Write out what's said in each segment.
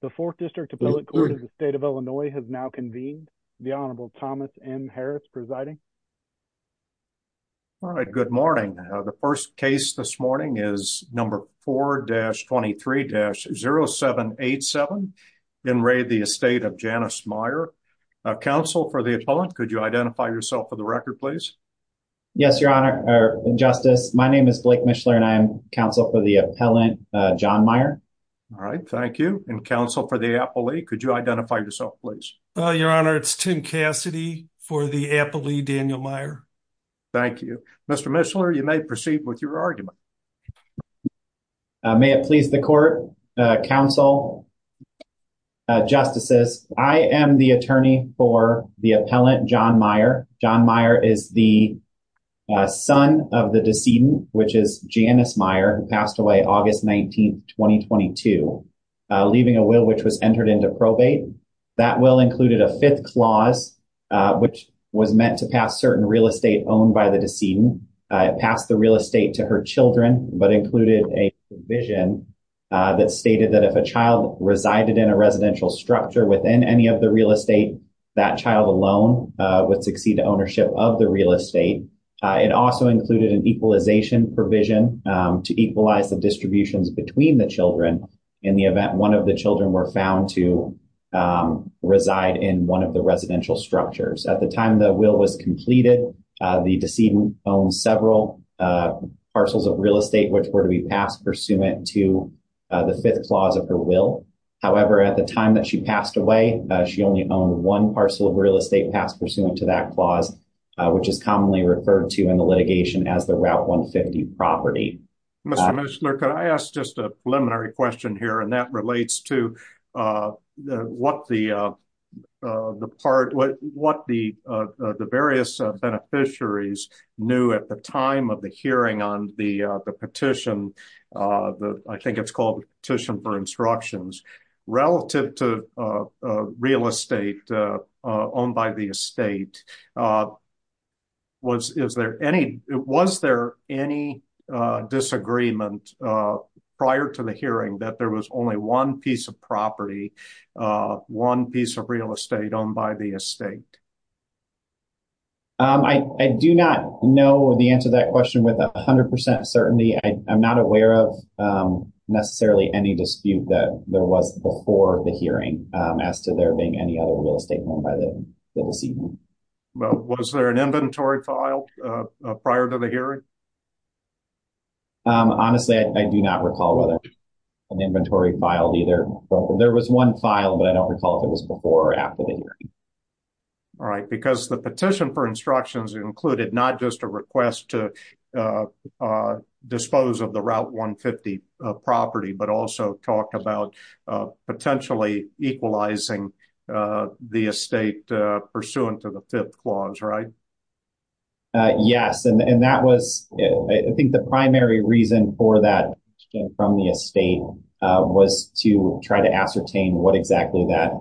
The 4th District Appellate Court of the State of Illinois has now convened. The Honorable Thomas M. Harris presiding. All right. Good morning. The first case this morning is number 4-23-0787, in raid the estate of Janice Meyer. Counsel for the appellant, could you identify yourself for the record, please? Yes, Your Honor, Justice. My name is Blake Mishler and I am counsel for the appellant, John Meyer. All right. Thank you. And counsel for the appellee, could you identify yourself, please? Your Honor, it's Tim Cassidy for the appellee, Daniel Meyer. Thank you. Mr. Mishler, you may proceed with your argument. May it please the court, counsel, justices, I am the attorney for the appellant, John Meyer. John Meyer is the son of the decedent, which is Janice Meyer, who passed away August 19, 2022, leaving a will which was entered into probate. That will included a fifth clause, which was meant to pass certain real estate owned by the decedent. It passed the real estate to her children, but included a provision that stated that if a child resided in a residential structure within any of the real estate, that child alone would succeed to ownership of the real estate. It also included an equalization provision to equalize the distributions between the children in the event one of the children were found to reside in one of the residential structures. At the time the will was completed, the decedent owned several parcels of real estate which were to be passed pursuant to the fifth clause of her will. However, at the time that she passed away, she only owned one parcel of real estate passed pursuant to that clause, which is commonly referred to in the litigation as the Route 150 property. Mr. Mishler, could I ask just a preliminary question here, and that relates to what the various beneficiaries knew at the time of the hearing on the petition, I think it's called the Petition for Instructions, relative to real estate owned by the estate, was there any disagreement prior to the hearing that there was only one piece of property, one piece of real estate owned by the estate? I do not know the answer to that question with 100% certainty. I'm not aware of necessarily any dispute that there was before the hearing as to there being any other real estate owned by the decedent. Was there an inventory filed prior to the hearing? Honestly, I do not recall whether an inventory filed either. There was one file, but I don't recall if it was before or after the hearing. All right, because the Petition for Instructions included not just a request to dispose of the Route 150 property, but also talked about potentially equalizing the estate pursuant to the fifth clause, right? Yes, and that was, I think the primary reason for that from the estate was to try to ascertain what exactly that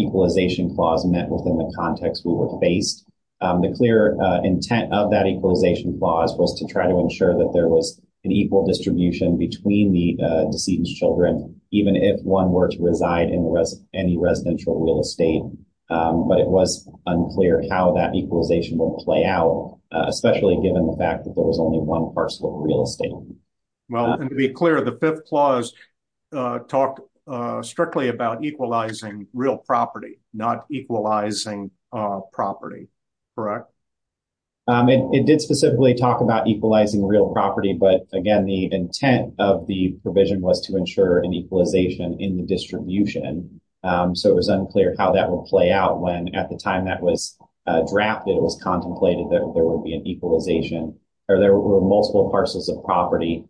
equalization clause meant within the context we were faced. The clear intent of that equalization clause was to try to ensure that there was an equal distribution between the decedent's children, even if one were to reside in any residential real estate. But it was unclear how that equalization would play out, especially given the fact that there was only one parcel of real estate. Well, and to be clear, the fifth clause talked strictly about equalizing real property, not equalizing property, correct? It did specifically talk about equalizing real property, but again, the intent of the provision was to ensure an equalization in the distribution. So it was unclear how that will play out when at the time that was drafted, it was contemplated that there would be an equalization or there were multiple parcels of property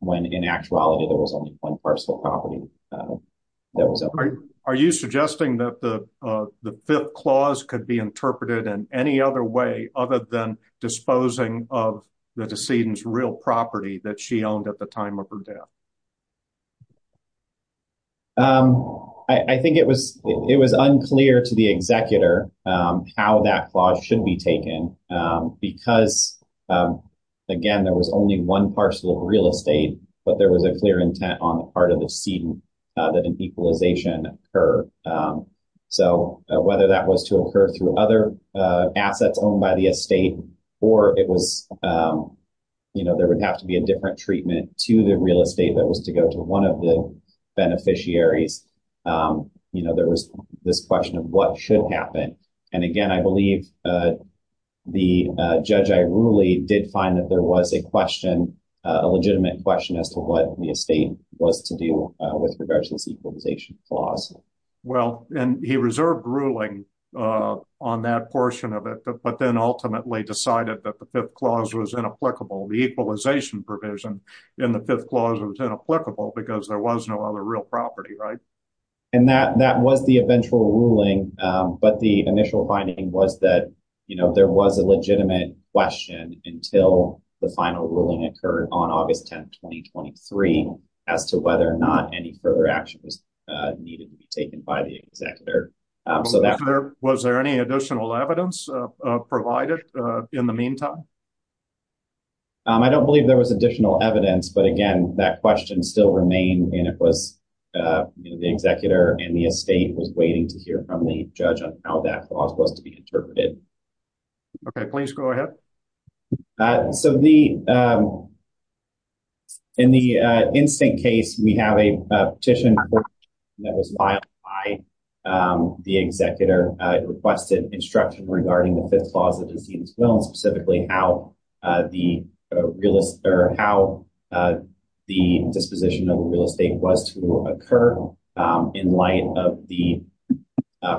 when in actuality there was only one parcel of property. Are you suggesting that the fifth clause could be interpreted in any other way other than disposing of the decedent's real property that she owned at the time of her death? I think it was it was unclear to the executor how that clause should be taken because, again, there was only one parcel of real estate, but there was a clear intent on the part of the decedent that an equalization occurred. So whether that was to occur through other assets owned by the estate or it was, you know, there would have to be a different treatment to the real estate that was being used, I believe that was to go to one of the beneficiaries. You know, there was this question of what should happen. And again, I believe the judge, I really did find that there was a question, a legitimate question as to what the estate was to do with regards to this equalization clause. Well, and he reserved ruling on that portion of it, but then ultimately decided that the fifth clause was inapplicable because there was no other real property, right? And that that was the eventual ruling. But the initial finding was that, you know, there was a legitimate question until the final ruling occurred on August 10th, 2023, as to whether or not any further action was needed to be taken by the executor. So that was there any additional evidence provided in the meantime? I don't believe there was additional evidence. But again, that question still remained. And it was the executor and the estate was waiting to hear from the judge on how that clause was to be interpreted. Okay, please go ahead. So the in the instant case, we have a petition that was filed by the executor requested instruction regarding the fifth clause of disease. Well, and specifically how the realist or how the disposition of real estate was to occur in light of the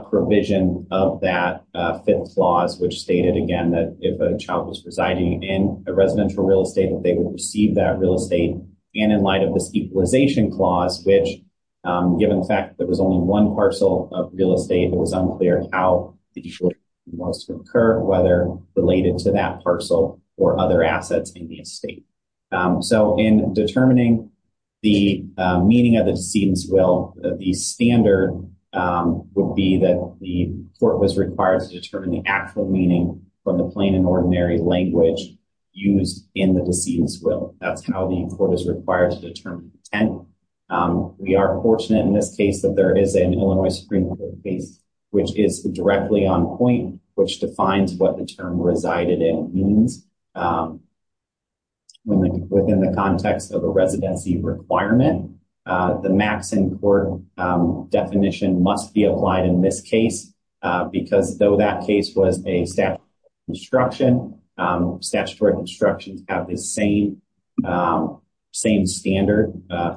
provision of that fifth clause, which stated again, that if a child was residing in a residential real estate, that they will receive that real estate. And in light of this equalization clause, which given the fact that there was only one parcel of real estate, it was unclear how it was to occur whether related to that parcel or other assets in the estate. So in determining the meaning of the decedent's will, the standard would be that the court was required to determine the actual meaning from the plain and ordinary language used in the decedent's will. That's how the court is required to determine. And we are fortunate in this case that there is an Illinois Supreme Court case, which is directly on point, which defines what the term resided in means within the context of a residency requirement. The max in court definition must be applied in this case, because though that case was a statute of construction, statutory constructions have the same standard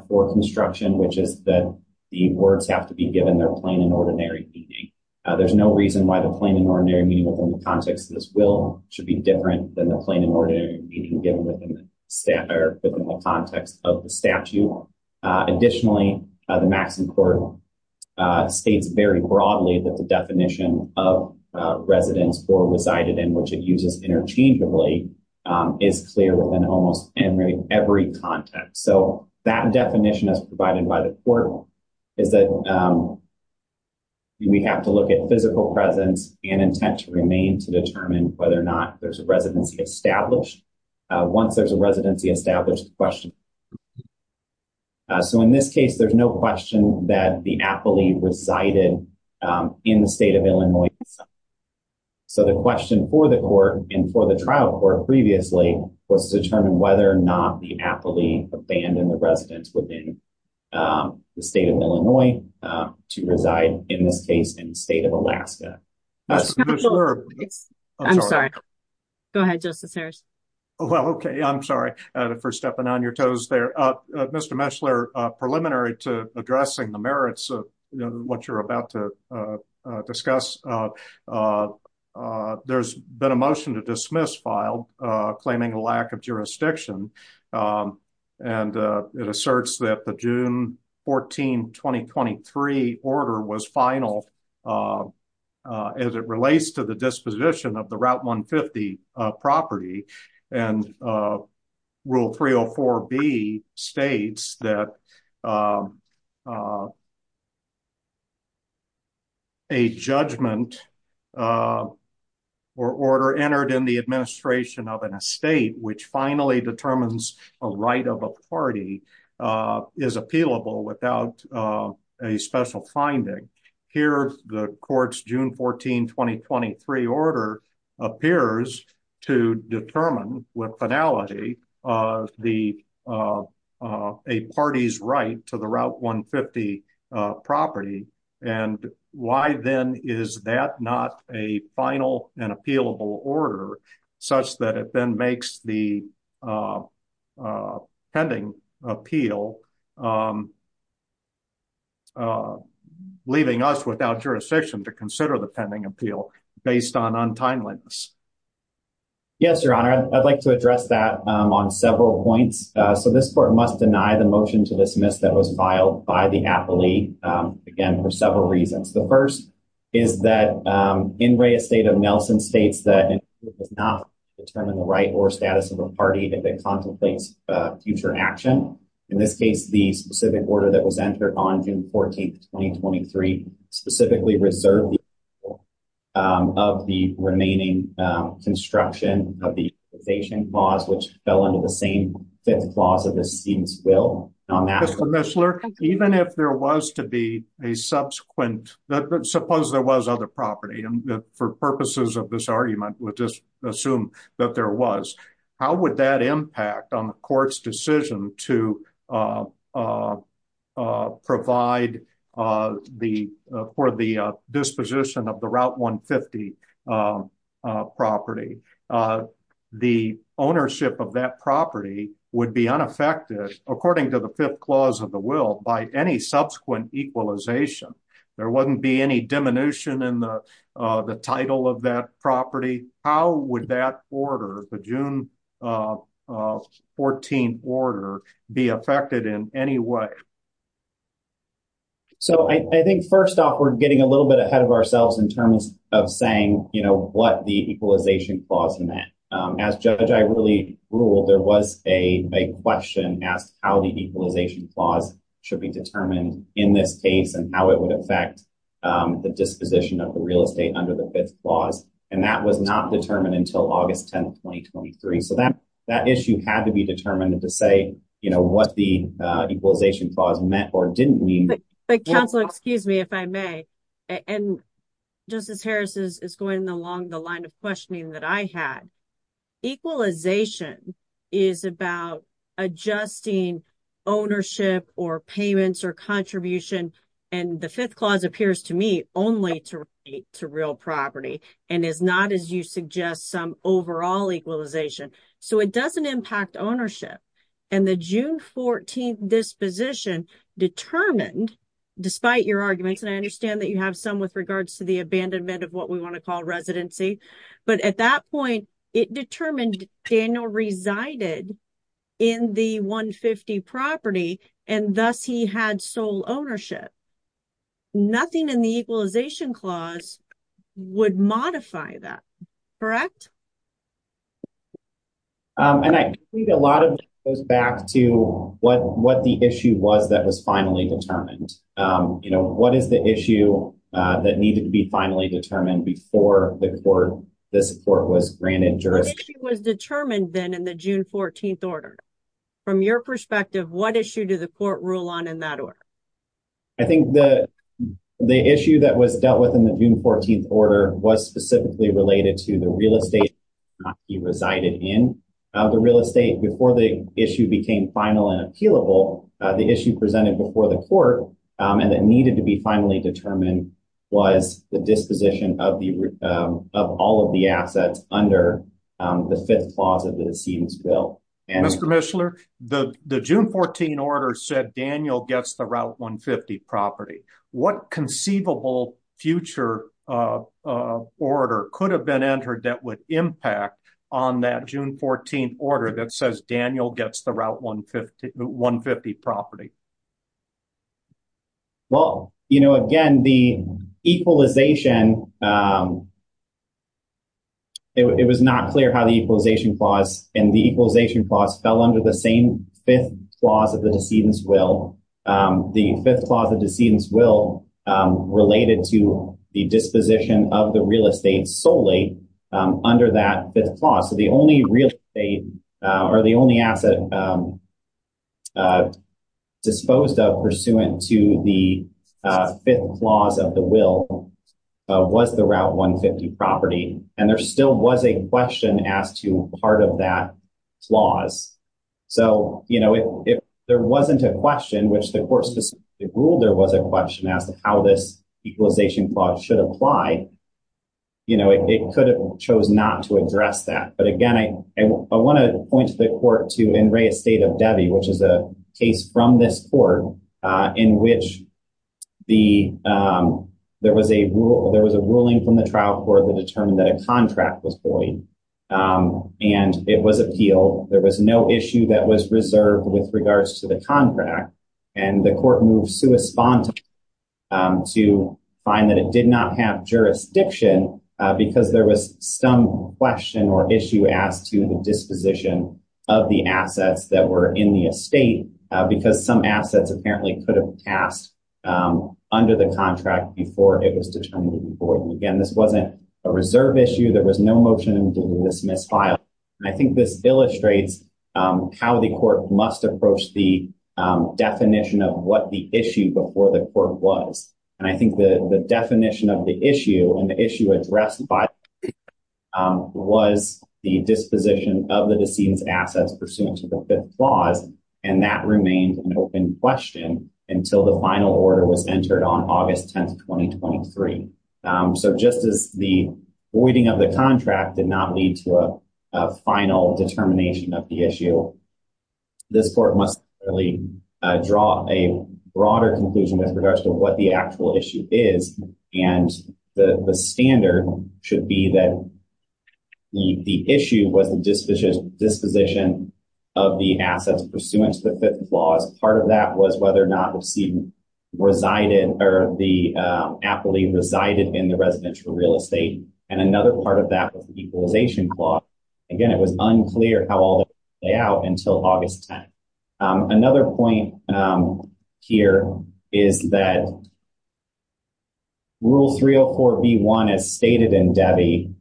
for construction, which is that the words have to be given their plain and ordinary meaning. There's no reason why the plain and ordinary meaning within the context of this will should be different than the plain and ordinary meaning given within the context of the statute. Additionally, the max in court states very broadly that the definition of residence or resided in which it uses interchangeably is clear within almost every context. So that definition as provided by the court is that we have to look at physical presence and intent to remain to determine whether or not there's a residency established once there's a residency established question. So in this case, there's no question that the appellee resided in the state of Illinois. So the question for the court and for the trial court previously was to determine whether or not the appellee abandoned the residence within the state of Illinois to reside in this case in the state of Alaska. I'm sorry. Go ahead, Justice Harris. OK, I'm sorry for stepping on your toes there. Mr. Meshler, preliminary to addressing the merits of what you're about to discuss, there's been a motion to dismiss filed claiming a lack of jurisdiction. And it asserts that the June 14, 2023 order was final as it relates to the disposition of the Route 150 property. And Rule 304B states that a judgment or order entered in the administration of an estate which finally determines a right of a party is appealable without a special finding. Here, the court's June 14, 2023 order appears to determine with finality of a party's right to the Route 150 property. And why then is that not a final and appealable order such that it then makes the pending appeal, leaving us without jurisdiction to consider the pending appeal based on untimeliness? Yes, Your Honor, I'd like to address that on several points. So this court must deny the motion to dismiss that was filed by the appellee, again, for several reasons. The first is that in Reyes State of Nelson states that it does not determine the right status of a party if it contemplates future action. In this case, the specific order that was entered on June 14, 2023, specifically reserved of the remaining construction of the causation clause, which fell under the same fifth clause of the scene's will. Even if there was to be a subsequent, suppose there was other property for purposes of this clause, how would that impact on the court's decision to provide for the disposition of the Route 150 property? The ownership of that property would be unaffected, according to the fifth clause of the will, by any subsequent equalization. There wouldn't be any diminution in the title of that property. How would that order, the June 14 order, be affected in any way? So I think first off, we're getting a little bit ahead of ourselves in terms of saying, you know, what the equalization clause meant. As judge, I really ruled there was a question asked how the equalization clause should be determined in this case and how it would affect the disposition of the real estate under the fifth clause. And that was not determined until August 10, 2023. So that issue had to be determined to say, you know, what the equalization clause meant or didn't mean. But counsel, excuse me, if I may, and Justice Harris is going along the line of questioning that I had. Equalization is about adjusting ownership or payments or contribution, and the fifth and is not, as you suggest, some overall equalization. So it doesn't impact ownership. And the June 14 disposition determined, despite your arguments, and I understand that you have some with regards to the abandonment of what we want to call residency, but at that point, it determined Daniel resided in the 150 property, and thus he had sole ownership. Nothing in the equalization clause would modify that, correct? And I think a lot of it goes back to what the issue was that was finally determined. You know, what is the issue that needed to be finally determined before the court, this court was granted jurisdiction? What issue was determined then in the June 14 order? From your perspective, what issue did the court rule on in that order? I think that the issue that was dealt with in the June 14 order was specifically related to the real estate he resided in the real estate before the issue became final and appealable. The issue presented before the court, and that needed to be finally determined was the disposition of the of all of the assets under the fifth clause of the proceedings bill. Mr. Mishler, the June 14 order said Daniel gets the Route 150 property. What conceivable future order could have been entered that would impact on that June 14 order that says Daniel gets the Route 150 property? Well, you know, again, the equalization, it was not clear how the equalization clause and the equalization clause fell under the same fifth clause of the decedent's will. The fifth clause of the decedent's will related to the disposition of the real estate solely under that fifth clause. So the only real estate or the only asset disposed of pursuant to the fifth clause of the will was the Route 150 property. And there still was a question as to part of that clause. So, you know, if there wasn't a question, which the court specifically ruled there was a question as to how this equalization clause should apply, you know, it could have chose not to address that. But again, I want to point to the court to in re estate of Debbie, which is a case from this court in which there was a ruling from the trial court that determined that a contract was void and it was appealed. There was no issue that was reserved with regards to the contract. And the court moved to find that it did not have jurisdiction because there was some question or issue as to the disposition of the assets that were in the estate because some assets apparently could have passed under the contract before it was determined to be void. And again, this wasn't a reserve issue. There was no motion to dismiss file. And I think this illustrates how the court must approach the definition of what the issue before the court was. And I think the definition of the issue and the issue addressed by was the disposition of the assets pursuant to the clause. And that remains an open question until the final order was entered on August 10th, 2023. So just as the waiting of the contract did not lead to a final determination of the issue. This court must really draw a broader conclusion as regards to what the actual issue is. And the standard should be that the issue was the disposition of the assets pursuant to the fifth clause. Part of that was whether or not the appellee resided in the residential real estate. And another part of that was the equalization clause. Again, it was unclear how all the layout until August 10. Another point here is that rule 304 B1 as stated in Debbie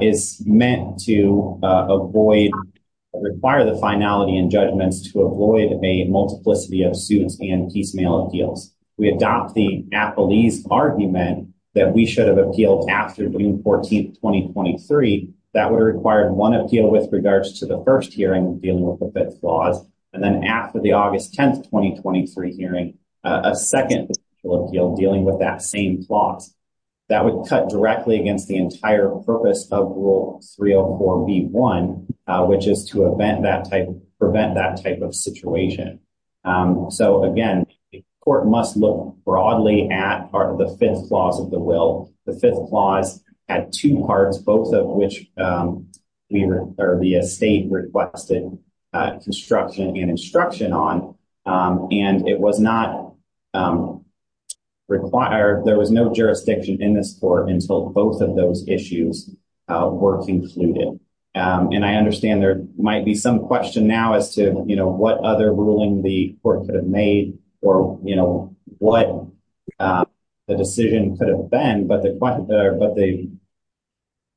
is meant to avoid, require the finality and judgments to avoid a multiplicity of suits and piecemeal appeals. We adopt the appellee's argument that we should have appealed after June 14th, 2023. That would have required one appeal with regards to the first hearing dealing with the fifth clause. And then after the August 10th, 2023 hearing, a second appeal dealing with that same clause that would cut directly against the entire purpose of rule 304 B1, which is to event that type, prevent that type of situation. So again, the court must look broadly at the fifth clause of the will. The fifth clause had two parts, both of which the estate requested construction and instruction on, and it was not required. There was no jurisdiction in this court until both of those issues were concluded. And I understand there might be some question now as to, you know, what other ruling the court could have made or, you know, what the decision could have been. But the, but the,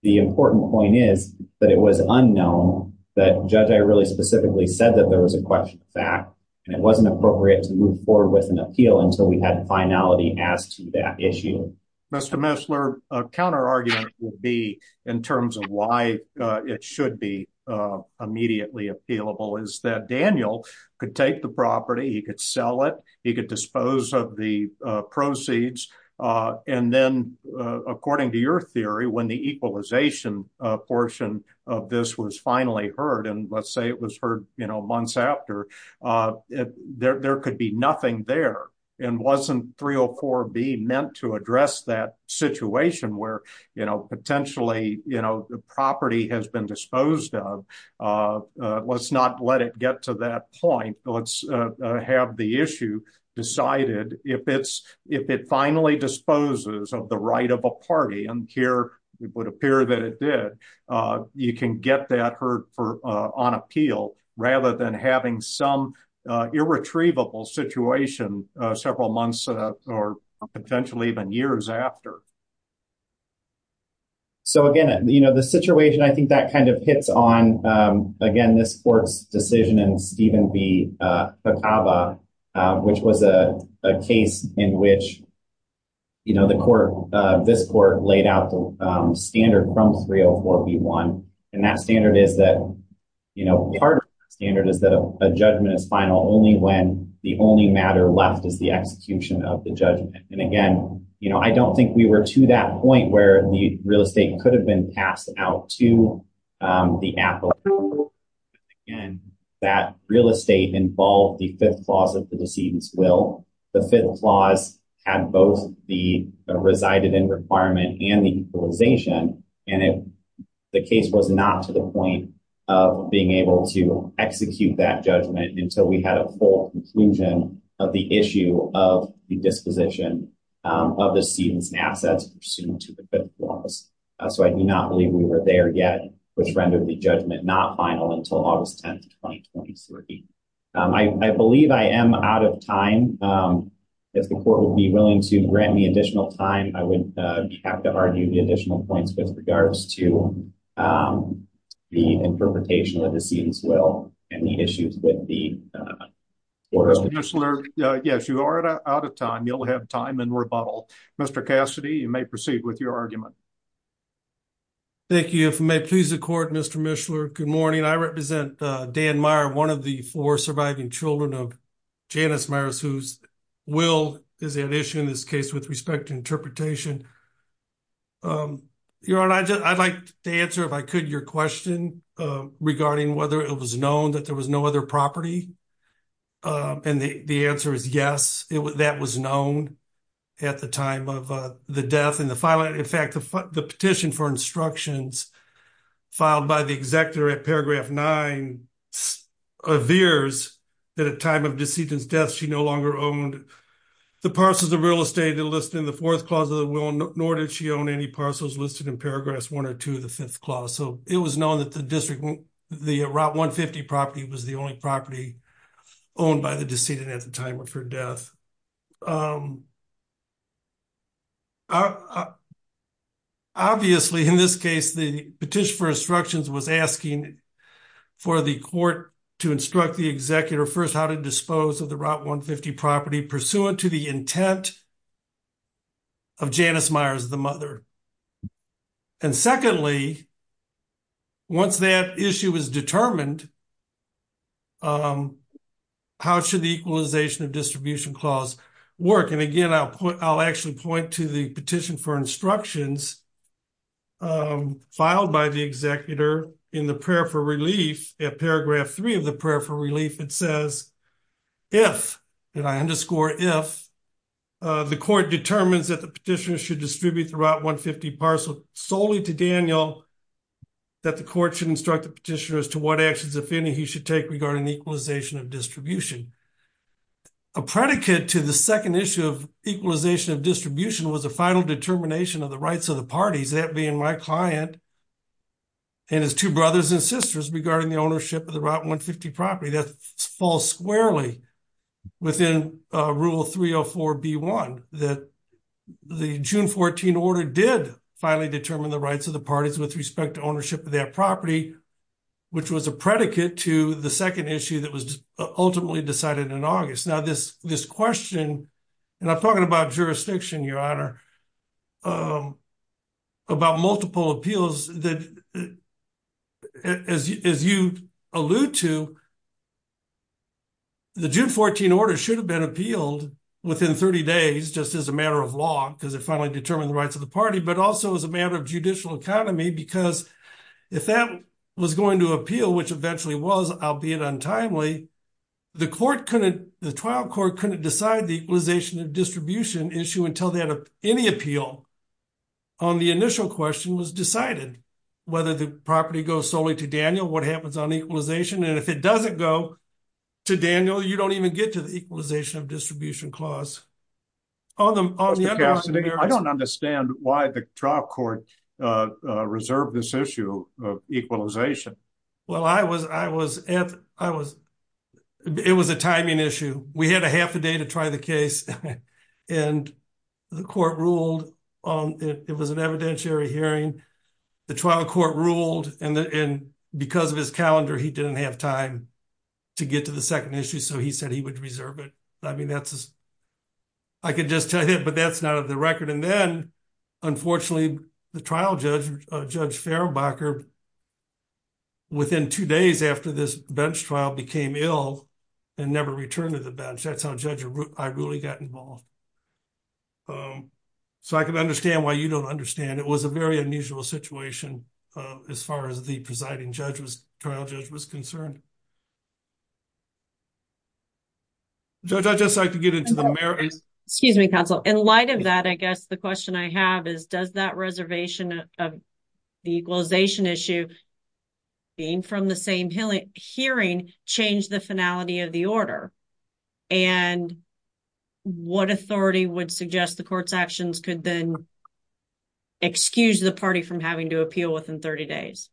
the important point is that it was unknown that judge, I really specifically said that there was a question of fact, and it wasn't appropriate to move forward with an appeal until we had finality as to that issue. Mr. Messler, a counter argument would be in terms of why it should be immediately appealable is that Daniel could take the property. He could sell it. He could dispose of the proceeds. And then according to your theory, when the equalization portion of this was finally heard, and let's say it was heard, you know, months after, there could be nothing there and wasn't 304B meant to address that situation where, you know, potentially, you know, the property has been disposed of. Let's not let it get to that point. Let's have the issue decided if it's, if it finally disposes of the right of a party, and here it would appear that it did, you can get that heard for on appeal rather than having some irretrievable situation, several months, or potentially even years after. So again, you know, the situation, I think that kind of hits on, again, this court's decision and Stephen B. which was a case in which, you know, the court, this court laid out the standard from 304B1. And that standard is that, you know, part of the standard is that a judgment is final only when the only matter left is the execution of the judgment. And again, you know, I don't think we were to that point where the real estate could have been passed out to the applicant. And that real estate involved the fifth clause of the decedent's will. The fifth clause had both the resided in requirement and the equalization. And if the case was not to the point of being able to execute that judgment until we had a full conclusion of the issue of the disposition of the cedent's assets pursuant to the fifth clause, so I do not believe we were there yet, which rendered the judgment not final until August 10, 2023. I believe I am out of time. If the court would be willing to grant me additional time, I would have to argue the points with regards to the interpretation of the cedent's will and the issues with the court. Mr. Mishler, yes, you are out of time. You'll have time in rebuttal. Mr. Cassidy, you may proceed with your argument. Thank you. If I may please the court, Mr. Mishler, good morning. I represent Dan Meyer, one of the four surviving children of Janice Meyers, whose will is an issue in this case with respect to interpretation. Your Honor, I'd like to answer, if I could, your question regarding whether it was known that there was no other property, and the answer is yes, that was known at the time of the death and the filing. In fact, the petition for instructions filed by the executor at paragraph nine appears that at the time of the cedent's death, she no longer owned the parcels of real estate listed in the fourth clause of the will, nor did she own any parcels listed in paragraph one or two of the fifth clause. So, it was known that the district, the Route 150 property was the only property owned by the cedent at the time of her death. Obviously, in this case, the petition for instructions was asking for the court to instruct the executor first how to dispose of the Route 150 property pursuant to the intent of Janice Meyers, the mother. And secondly, once that issue is determined, how should the equalization of distribution clause work? And again, I'll actually point to the petition for instructions filed by the executor in the prayer for relief at paragraph three of the prayer for relief. It says, if, and I underscore if, the court determines that the petitioner should distribute the Route 150 parcel solely to Daniel, that the court should instruct the petitioner as to what actions, if any, he should take regarding the equalization of distribution. A predicate to the second issue of equalization of distribution was a final determination of the rights of the parties, that being my client and his two brothers and sisters regarding the ownership of the Route 150 property. That falls squarely within rule 304B1, that the June 14 order did finally determine the rights of the parties with respect to ownership of that property, which was a predicate to the second issue that was ultimately decided in August. Now, this question, and I'm talking about jurisdiction, Your Honor, about multiple appeals that, as you allude to, the June 14 order should have been appealed within 30 days, just as a matter of law, because it finally determined the rights of the party, but also as a matter of judicial economy, because if that was going to appeal, which eventually was, albeit untimely, the trial court couldn't decide the equalization of distribution issue until they had any appeal on the initial question was decided, whether the property goes solely to Daniel, what happens on equalization, and if it doesn't go to Daniel, you don't even get to the equalization of distribution clause. On the other hand, there are— Mr. Cassidy, I don't understand why the trial court reserved this issue of equalization. Well, I was—it was a timing issue. We had a half a day to try the case, and the court ruled it was an evidentiary hearing. The trial court ruled, and because of his calendar, he didn't have time to get to the second issue, so he said he would reserve it. I mean, that's—I could just tell you that, but that's not on the record. And then, unfortunately, the trial judge, Judge Farabacher, within two days after this bench trial, became ill and never returned to the bench. That's how Judge Iruli got involved. So I can understand why you don't understand. It was a very unusual situation as far as the presiding judge was—trial judge was concerned. Judge, I'd just like to get into the merits— Excuse me, counsel. In light of that, I guess the question I have is, does that reservation of the equalization issue being from the same hearing change the finality of the order? And what authority would suggest the court's actions could then excuse the party from having to appeal within 30 days?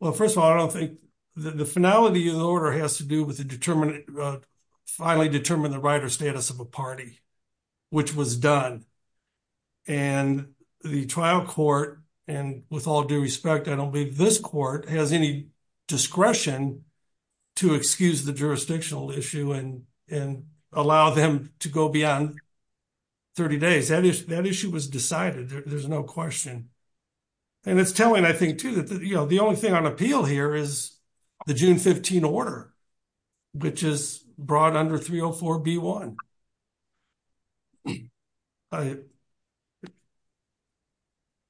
Well, first of all, I don't think—the finality of the order has to do with the determination—finally determine the right or status of a party, which was done. And the trial court—and with all due respect, I don't believe this court has any discretion to excuse the jurisdictional issue and allow them to go beyond 30 days. That issue was decided. There's no question. And it's telling, I think, too, that the only thing on appeal here is the June 15 order. Which is brought under 304B1.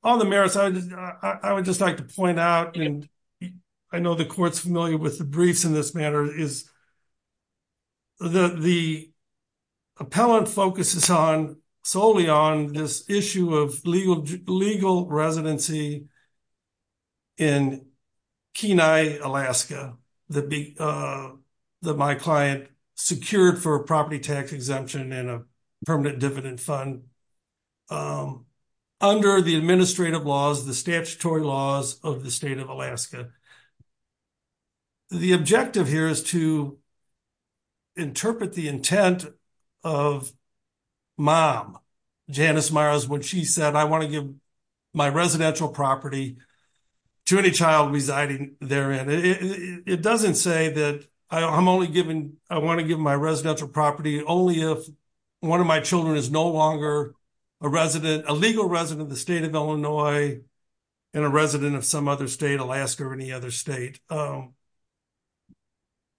On the merits, I would just like to point out—and I know the court's familiar with the briefs in this matter—is the appellant focuses solely on this issue of legal residency in Kenai, Alaska, that my client secured for a property tax exemption and a permanent dividend fund under the administrative laws, the statutory laws of the state of Alaska. The objective here is to interpret the intent of Mom, Janice Myers, when she said, I want to give my residential property to any child residing therein. It doesn't say that I'm only giving—I want to give my residential property only if one of my children is no longer a resident—a legal resident of the state of Illinois and a resident of some other state, Alaska or any other state.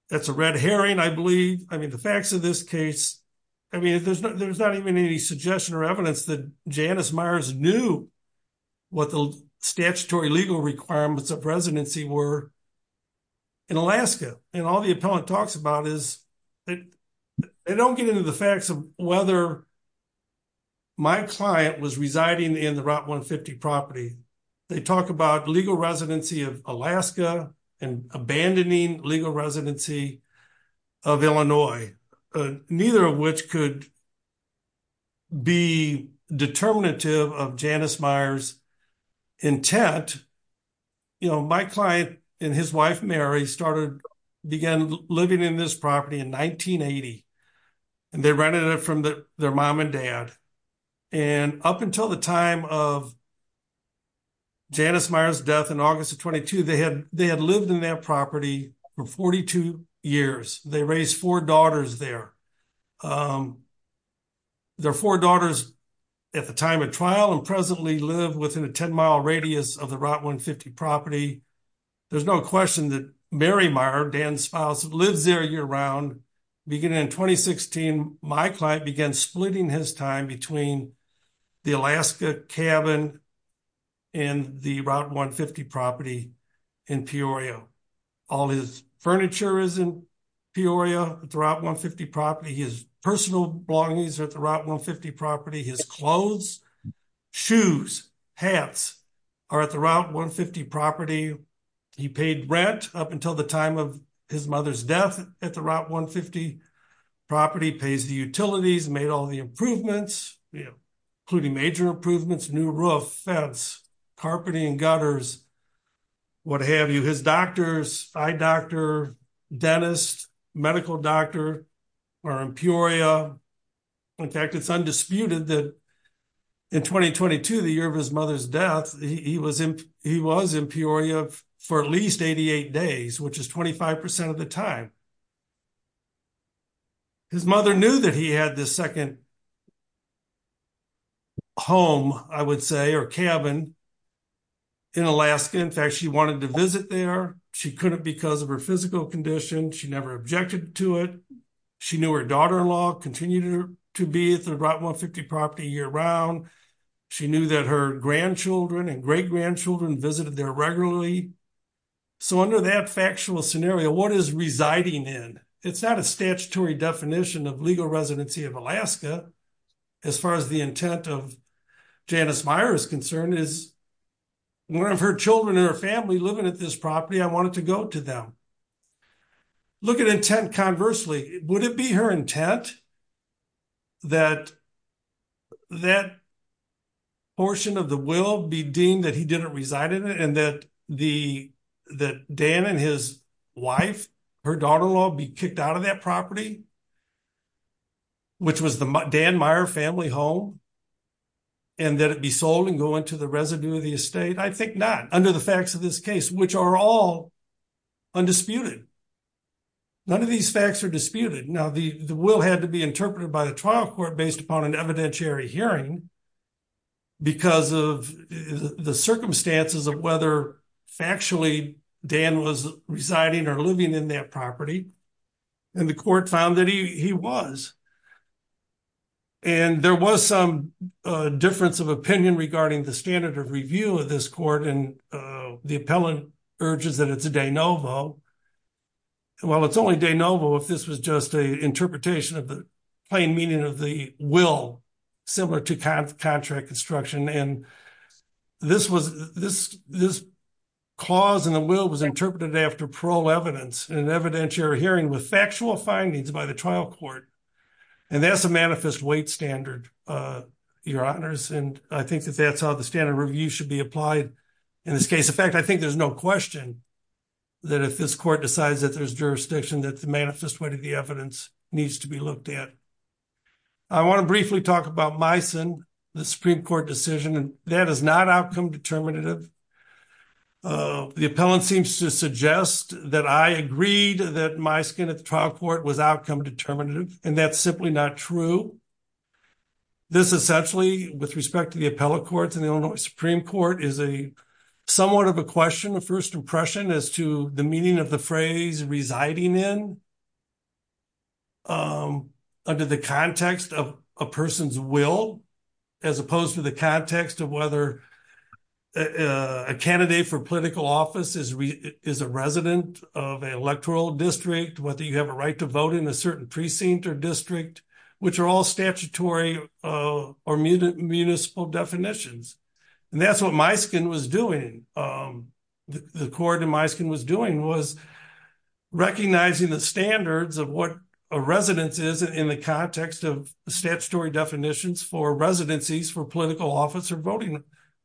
That's a red herring, I believe. I mean, the facts of this case—I mean, there's not even any suggestion or evidence that Janice Myers knew what the statutory legal requirements of residency were in Alaska. And all the appellant talks about is—they don't get into the facts of whether my client was residing in the Route 150 property. They talk about legal residency of Alaska and abandoning legal residency of Illinois, neither of which could be determinative of Janice Myers' intent. You know, my client and his wife, Mary, started—began living in this property in 1980. And they rented it from their mom and dad. And up until the time of Janice Myers' death in August of 22, they had lived in that property for 42 years. They raised four daughters there. Their four daughters at the time of trial and presently live within a 10-mile radius of the Route 150 property. There's no question that Mary Meyer, Dan's spouse, lives there year-round. Beginning in 2016, my client began splitting his time between the Alaska cabin and the Route 150 property in Peorio. All his furniture is in Peorio at the Route 150 property. His personal belongings are at the Route 150 property. His clothes, shoes, hats are at the Route 150 property. He paid rent up until the time of his mother's death at the Route 150 property, pays the utilities, made all the improvements, including major improvements, new roof, fence, carpeting and gutters, what have you. His doctors, eye doctor, dentist, medical doctor are in Peorio. In fact, it's undisputed that in 2022, the year of his mother's death, he was in Peorio for at least 88 days, which is 25% of the time. His mother knew that he had this second home, I would say, or cabin in Alaska. In fact, she wanted to visit there. She couldn't because of her physical condition. She never objected to it. She knew her daughter-in-law continued to be at the Route 150 property year-round. She knew that her grandchildren and great-grandchildren visited there regularly. So under that factual scenario, what is residing in? It's not a statutory definition of legal residency of Alaska. As far as the intent of Janice Meyer is concerned, is one of her children and her family living at this property, I wanted to go to them. Look at intent conversely, would it be her intent that that portion of the will be deemed that he didn't reside in it and that Dan and his wife, her daughter-in-law be kicked out of that property, which was the Dan Meyer family home, and that it be sold and go into the residue of the estate? I think not under the facts of this case, which are all undisputed. None of these facts are disputed. Now, the will had to be interpreted by the trial court based upon an evidentiary hearing because of the circumstances of whether factually Dan was residing or living in that property. And the court found that he was. And there was some difference of opinion regarding the standard of review of this court. And the appellant urges that it's a de novo. Well, it's only de novo if this was just an interpretation of the plain meaning of the will, similar to contract construction. And this clause in the will was interpreted after parole evidence in an evidentiary hearing with factual findings by the trial court. And that's a manifest weight standard, your honors. And I think that that's how the standard review should be applied in this case. In fact, I think there's no question that if this court decides that there's jurisdiction, that the manifest weight of the evidence needs to be looked at. I want to briefly talk about Meissen, the Supreme Court decision. And that is not outcome determinative. The appellant seems to suggest that I agreed that Meissen at the trial court was outcome determinative. And that's simply not true. This essentially, with respect to the appellate courts in the Illinois Supreme Court, is a somewhat of a question, a first impression as to the meaning of the phrase residing in. Under the context of a person's will, as opposed to the context of whether a candidate for political office is a resident of an electoral district, whether you have a right to vote in a certain precinct or district, which are all statutory or municipal definitions. And that's what Meissen was doing. The court in Meissen was doing was recognizing the standards of what a residence is in the context of statutory definitions for residencies for political office or voting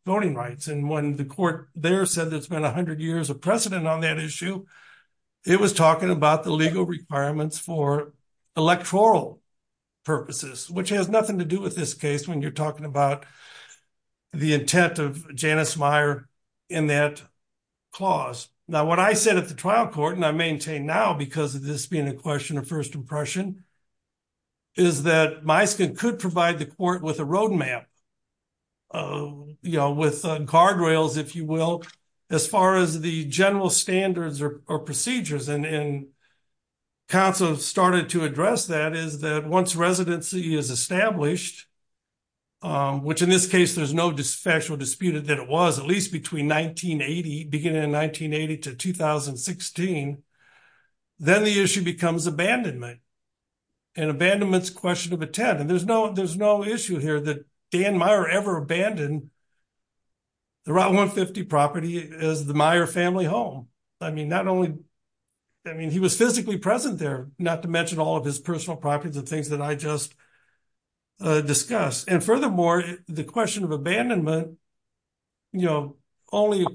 rights. And when the court there said there's been 100 years of precedent on that issue, it was talking about the legal requirements for electoral purposes, which has nothing to do with this when you're talking about the intent of Janice Meyer in that clause. Now, what I said at the trial court, and I maintain now because of this being a question of first impression, is that Meissen could provide the court with a roadmap, you know, with guardrails, if you will, as far as the general standards or procedures. And counsel started to address that, is that once residency is established, which in this case, there's no factual dispute that it was at least between 1980, beginning in 1980 to 2016, then the issue becomes abandonment. And abandonment is a question of intent. And there's no issue here that Dan Meyer ever abandoned the Route 150 property as the Meyer family home. I mean, not only, I mean, he was physically present there, not to mention all of his personal properties and things that I just discussed. And furthermore, the question of abandonment, you know, only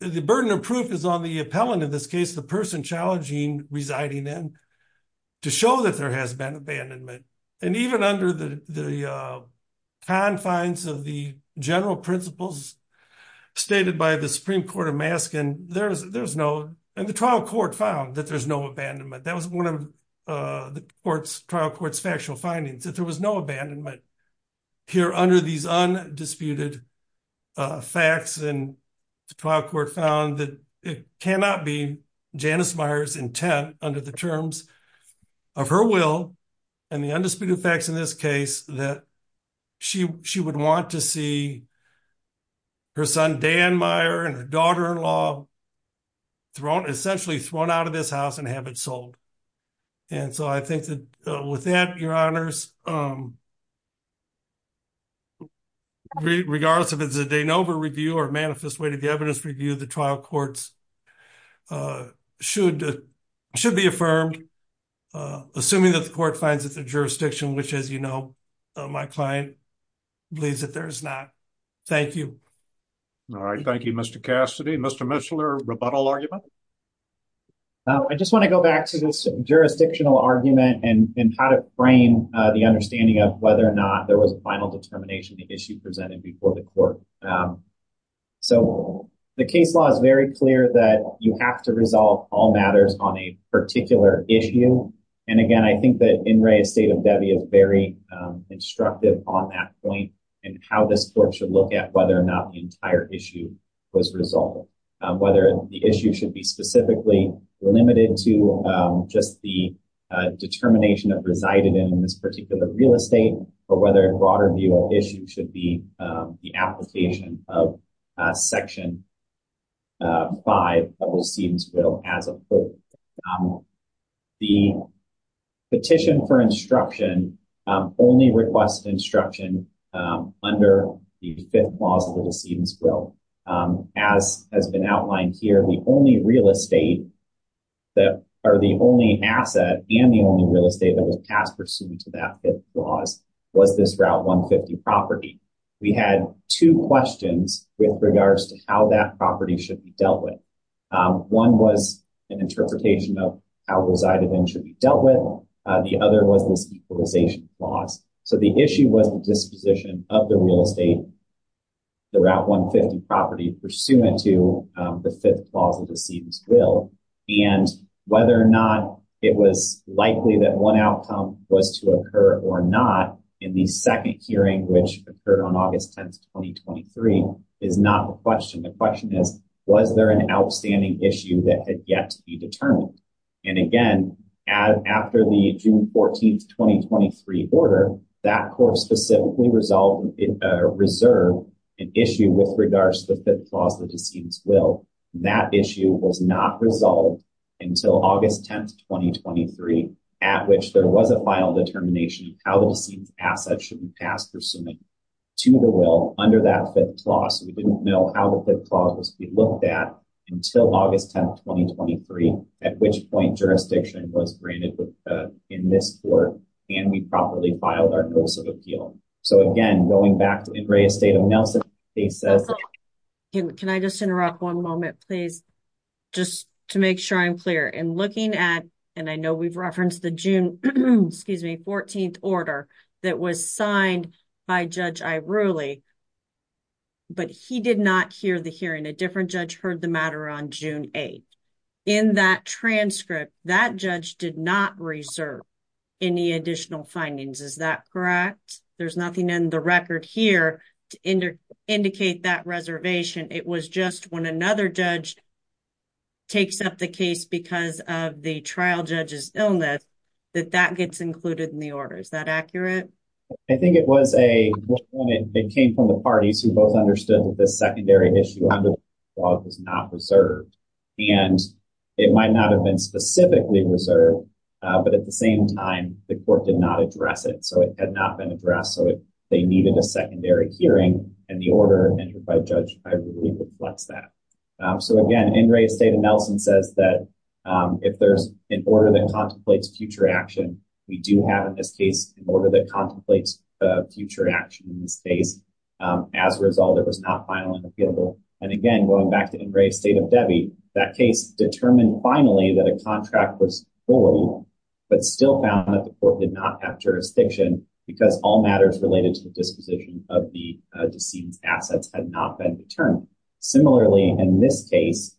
the burden of proof is on the appellant, in this case, the person challenging residing in, to show that there has been abandonment. And even under the confines of the general principles stated by the Supreme Court of and the trial court found that there's no abandonment. That was one of the trial court's factual findings, that there was no abandonment here under these undisputed facts. And the trial court found that it cannot be Janice Meyer's intent under the terms of her will and the undisputed facts in this case, that she would want to see her son, Dan Meyer, and her daughter-in-law thrown, essentially thrown out of this house and have it sold. And so I think that with that, your honors, regardless of if it's a de novo review or manifest way to the evidence review, the trial courts should, should be affirmed, assuming that the court finds that the jurisdiction, which as you know, my client believes that there's not. Thank you. All right. Thank you, Mr. Cassidy. Mr. Mishler, rebuttal argument. I just want to go back to this jurisdictional argument and how to frame the understanding of whether or not there was a final determination, the issue presented before the court. So the case law is very clear that you have to resolve all matters on a particular issue. And again, I think that in Ray's state of Debbie is very instructive on that point and how this court should look at whether or not the entire issue was resolved, whether the issue should be specifically limited to just the determination that resided in this particular real estate, or whether a broader view of issue should be the application of section five of O.C.'s will as a quote. The petition for instruction only request instruction under the fifth clause of the decedent's will as has been outlined here. The only real estate that are the only asset and the only real estate that was passed pursuant to that fifth clause was this route 150 property. We had two questions with regards to how that property should be dealt with. One was an interpretation of how resided in should be dealt with. The other was this equalization clause. So the issue was the disposition of the real estate, the route 150 property pursuant to the fifth clause of the decedent's will and whether or not it was likely that one outcome was to occur or not in the second hearing, which occurred on August 10th, 2023 is not the question. The question is, was there an outstanding issue that had yet to be determined? And again, after the June 14th, 2023 order, that court specifically resolved or reserved an issue with regards to the fifth clause of the decedent's will. That issue was not resolved until August 10th, 2023, at which there was a final determination of how the decedent's asset should be passed pursuant to the will under that fifth clause. We didn't know how the fifth clause was to be looked at until August 10th, 2023, at which point jurisdiction was granted in this court and we properly filed our notice of appeal. So again, going back to Ingres' statement, Nelson, he says. Can I just interrupt one moment, please? Just to make sure I'm clear in looking at, and I know we've referenced the June, excuse me, he did not hear the hearing. A different judge heard the matter on June 8th. In that transcript, that judge did not reserve any additional findings. Is that correct? There's nothing in the record here to indicate that reservation. It was just when another judge takes up the case because of the trial judge's illness that that gets included in the order. Is that accurate? I think it was a, it came from the parties who both understood that this secondary issue under the fifth clause was not reserved. And it might not have been specifically reserved, but at the same time, the court did not address it. So it had not been addressed. So they needed a secondary hearing and the order entered by a judge, I believe, reflects that. So again, Ingres' statement, Nelson says that if there's an order that contemplates future action, we do have, in this case, an order that contemplates future action in this case. As a result, it was not final and appealable. And again, going back to Ingres' State of Debit, that case determined finally that a contract was forwarded, but still found that the court did not have jurisdiction because all matters related to the disposition of the decedent's assets had not been determined. Similarly, in this case,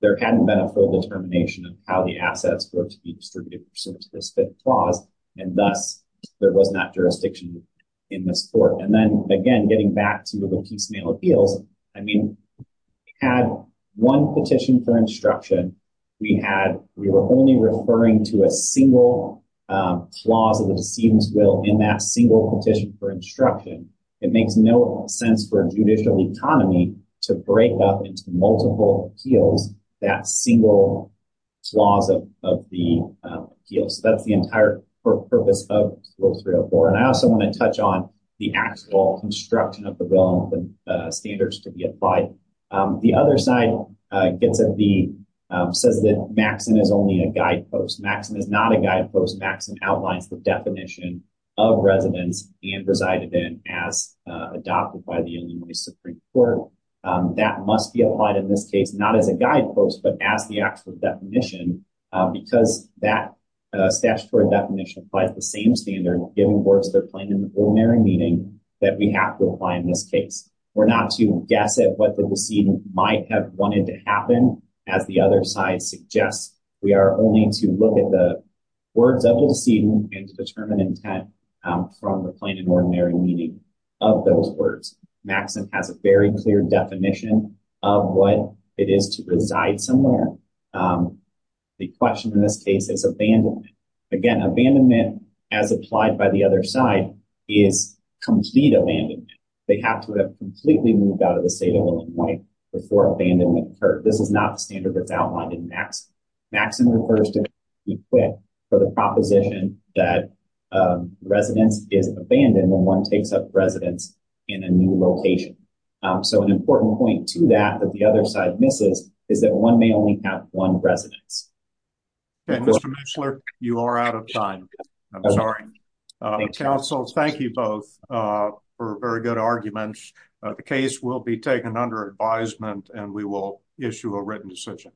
there hadn't been a full determination of how the assets were to be distributed pursuant to this fifth clause. And thus, there was not jurisdiction in this court. And then again, getting back to the piecemeal appeals, I mean, we had one petition for instruction. We were only referring to a single clause of the decedent's will in that single petition for instruction. It makes no sense for a judicial economy to break up into multiple appeals that single clause of the appeal. So, that's the entire purpose of Rule 304. And I also want to touch on the actual construction of the will and the standards to be applied. The other side says that Maxson is only a guidepost. Maxson is not a guidepost. Maxson outlines the definition of residence and resided in as adopted by the Illinois Supreme Court. That must be applied in this case, not as a guidepost, but as the actual definition, because that statutory definition applies the same standard giving words that are plain and ordinary meaning that we have to apply in this case. We're not to guess at what the decedent might have wanted to happen. As the other side suggests, we are only to look at the words of the decedent and to determine intent from the plain and ordinary meaning of those words. Maxson has a very clear definition of what it is to reside somewhere. The question in this case is abandonment. Again, abandonment, as applied by the other side, is complete abandonment. They have to have completely moved out of the state of Illinois before abandonment occurred. This is not the standard that's outlined in Maxson. Maxson refers to be quick for the proposition that residence is abandoned when one takes up residence in a new location. So an important point to that that the other side misses is that one may only have one residence. Mr. Mishler, you are out of time. I'm sorry. Counsel, thank you both for very good arguments. The case will be taken under advisement and we will issue a written decision.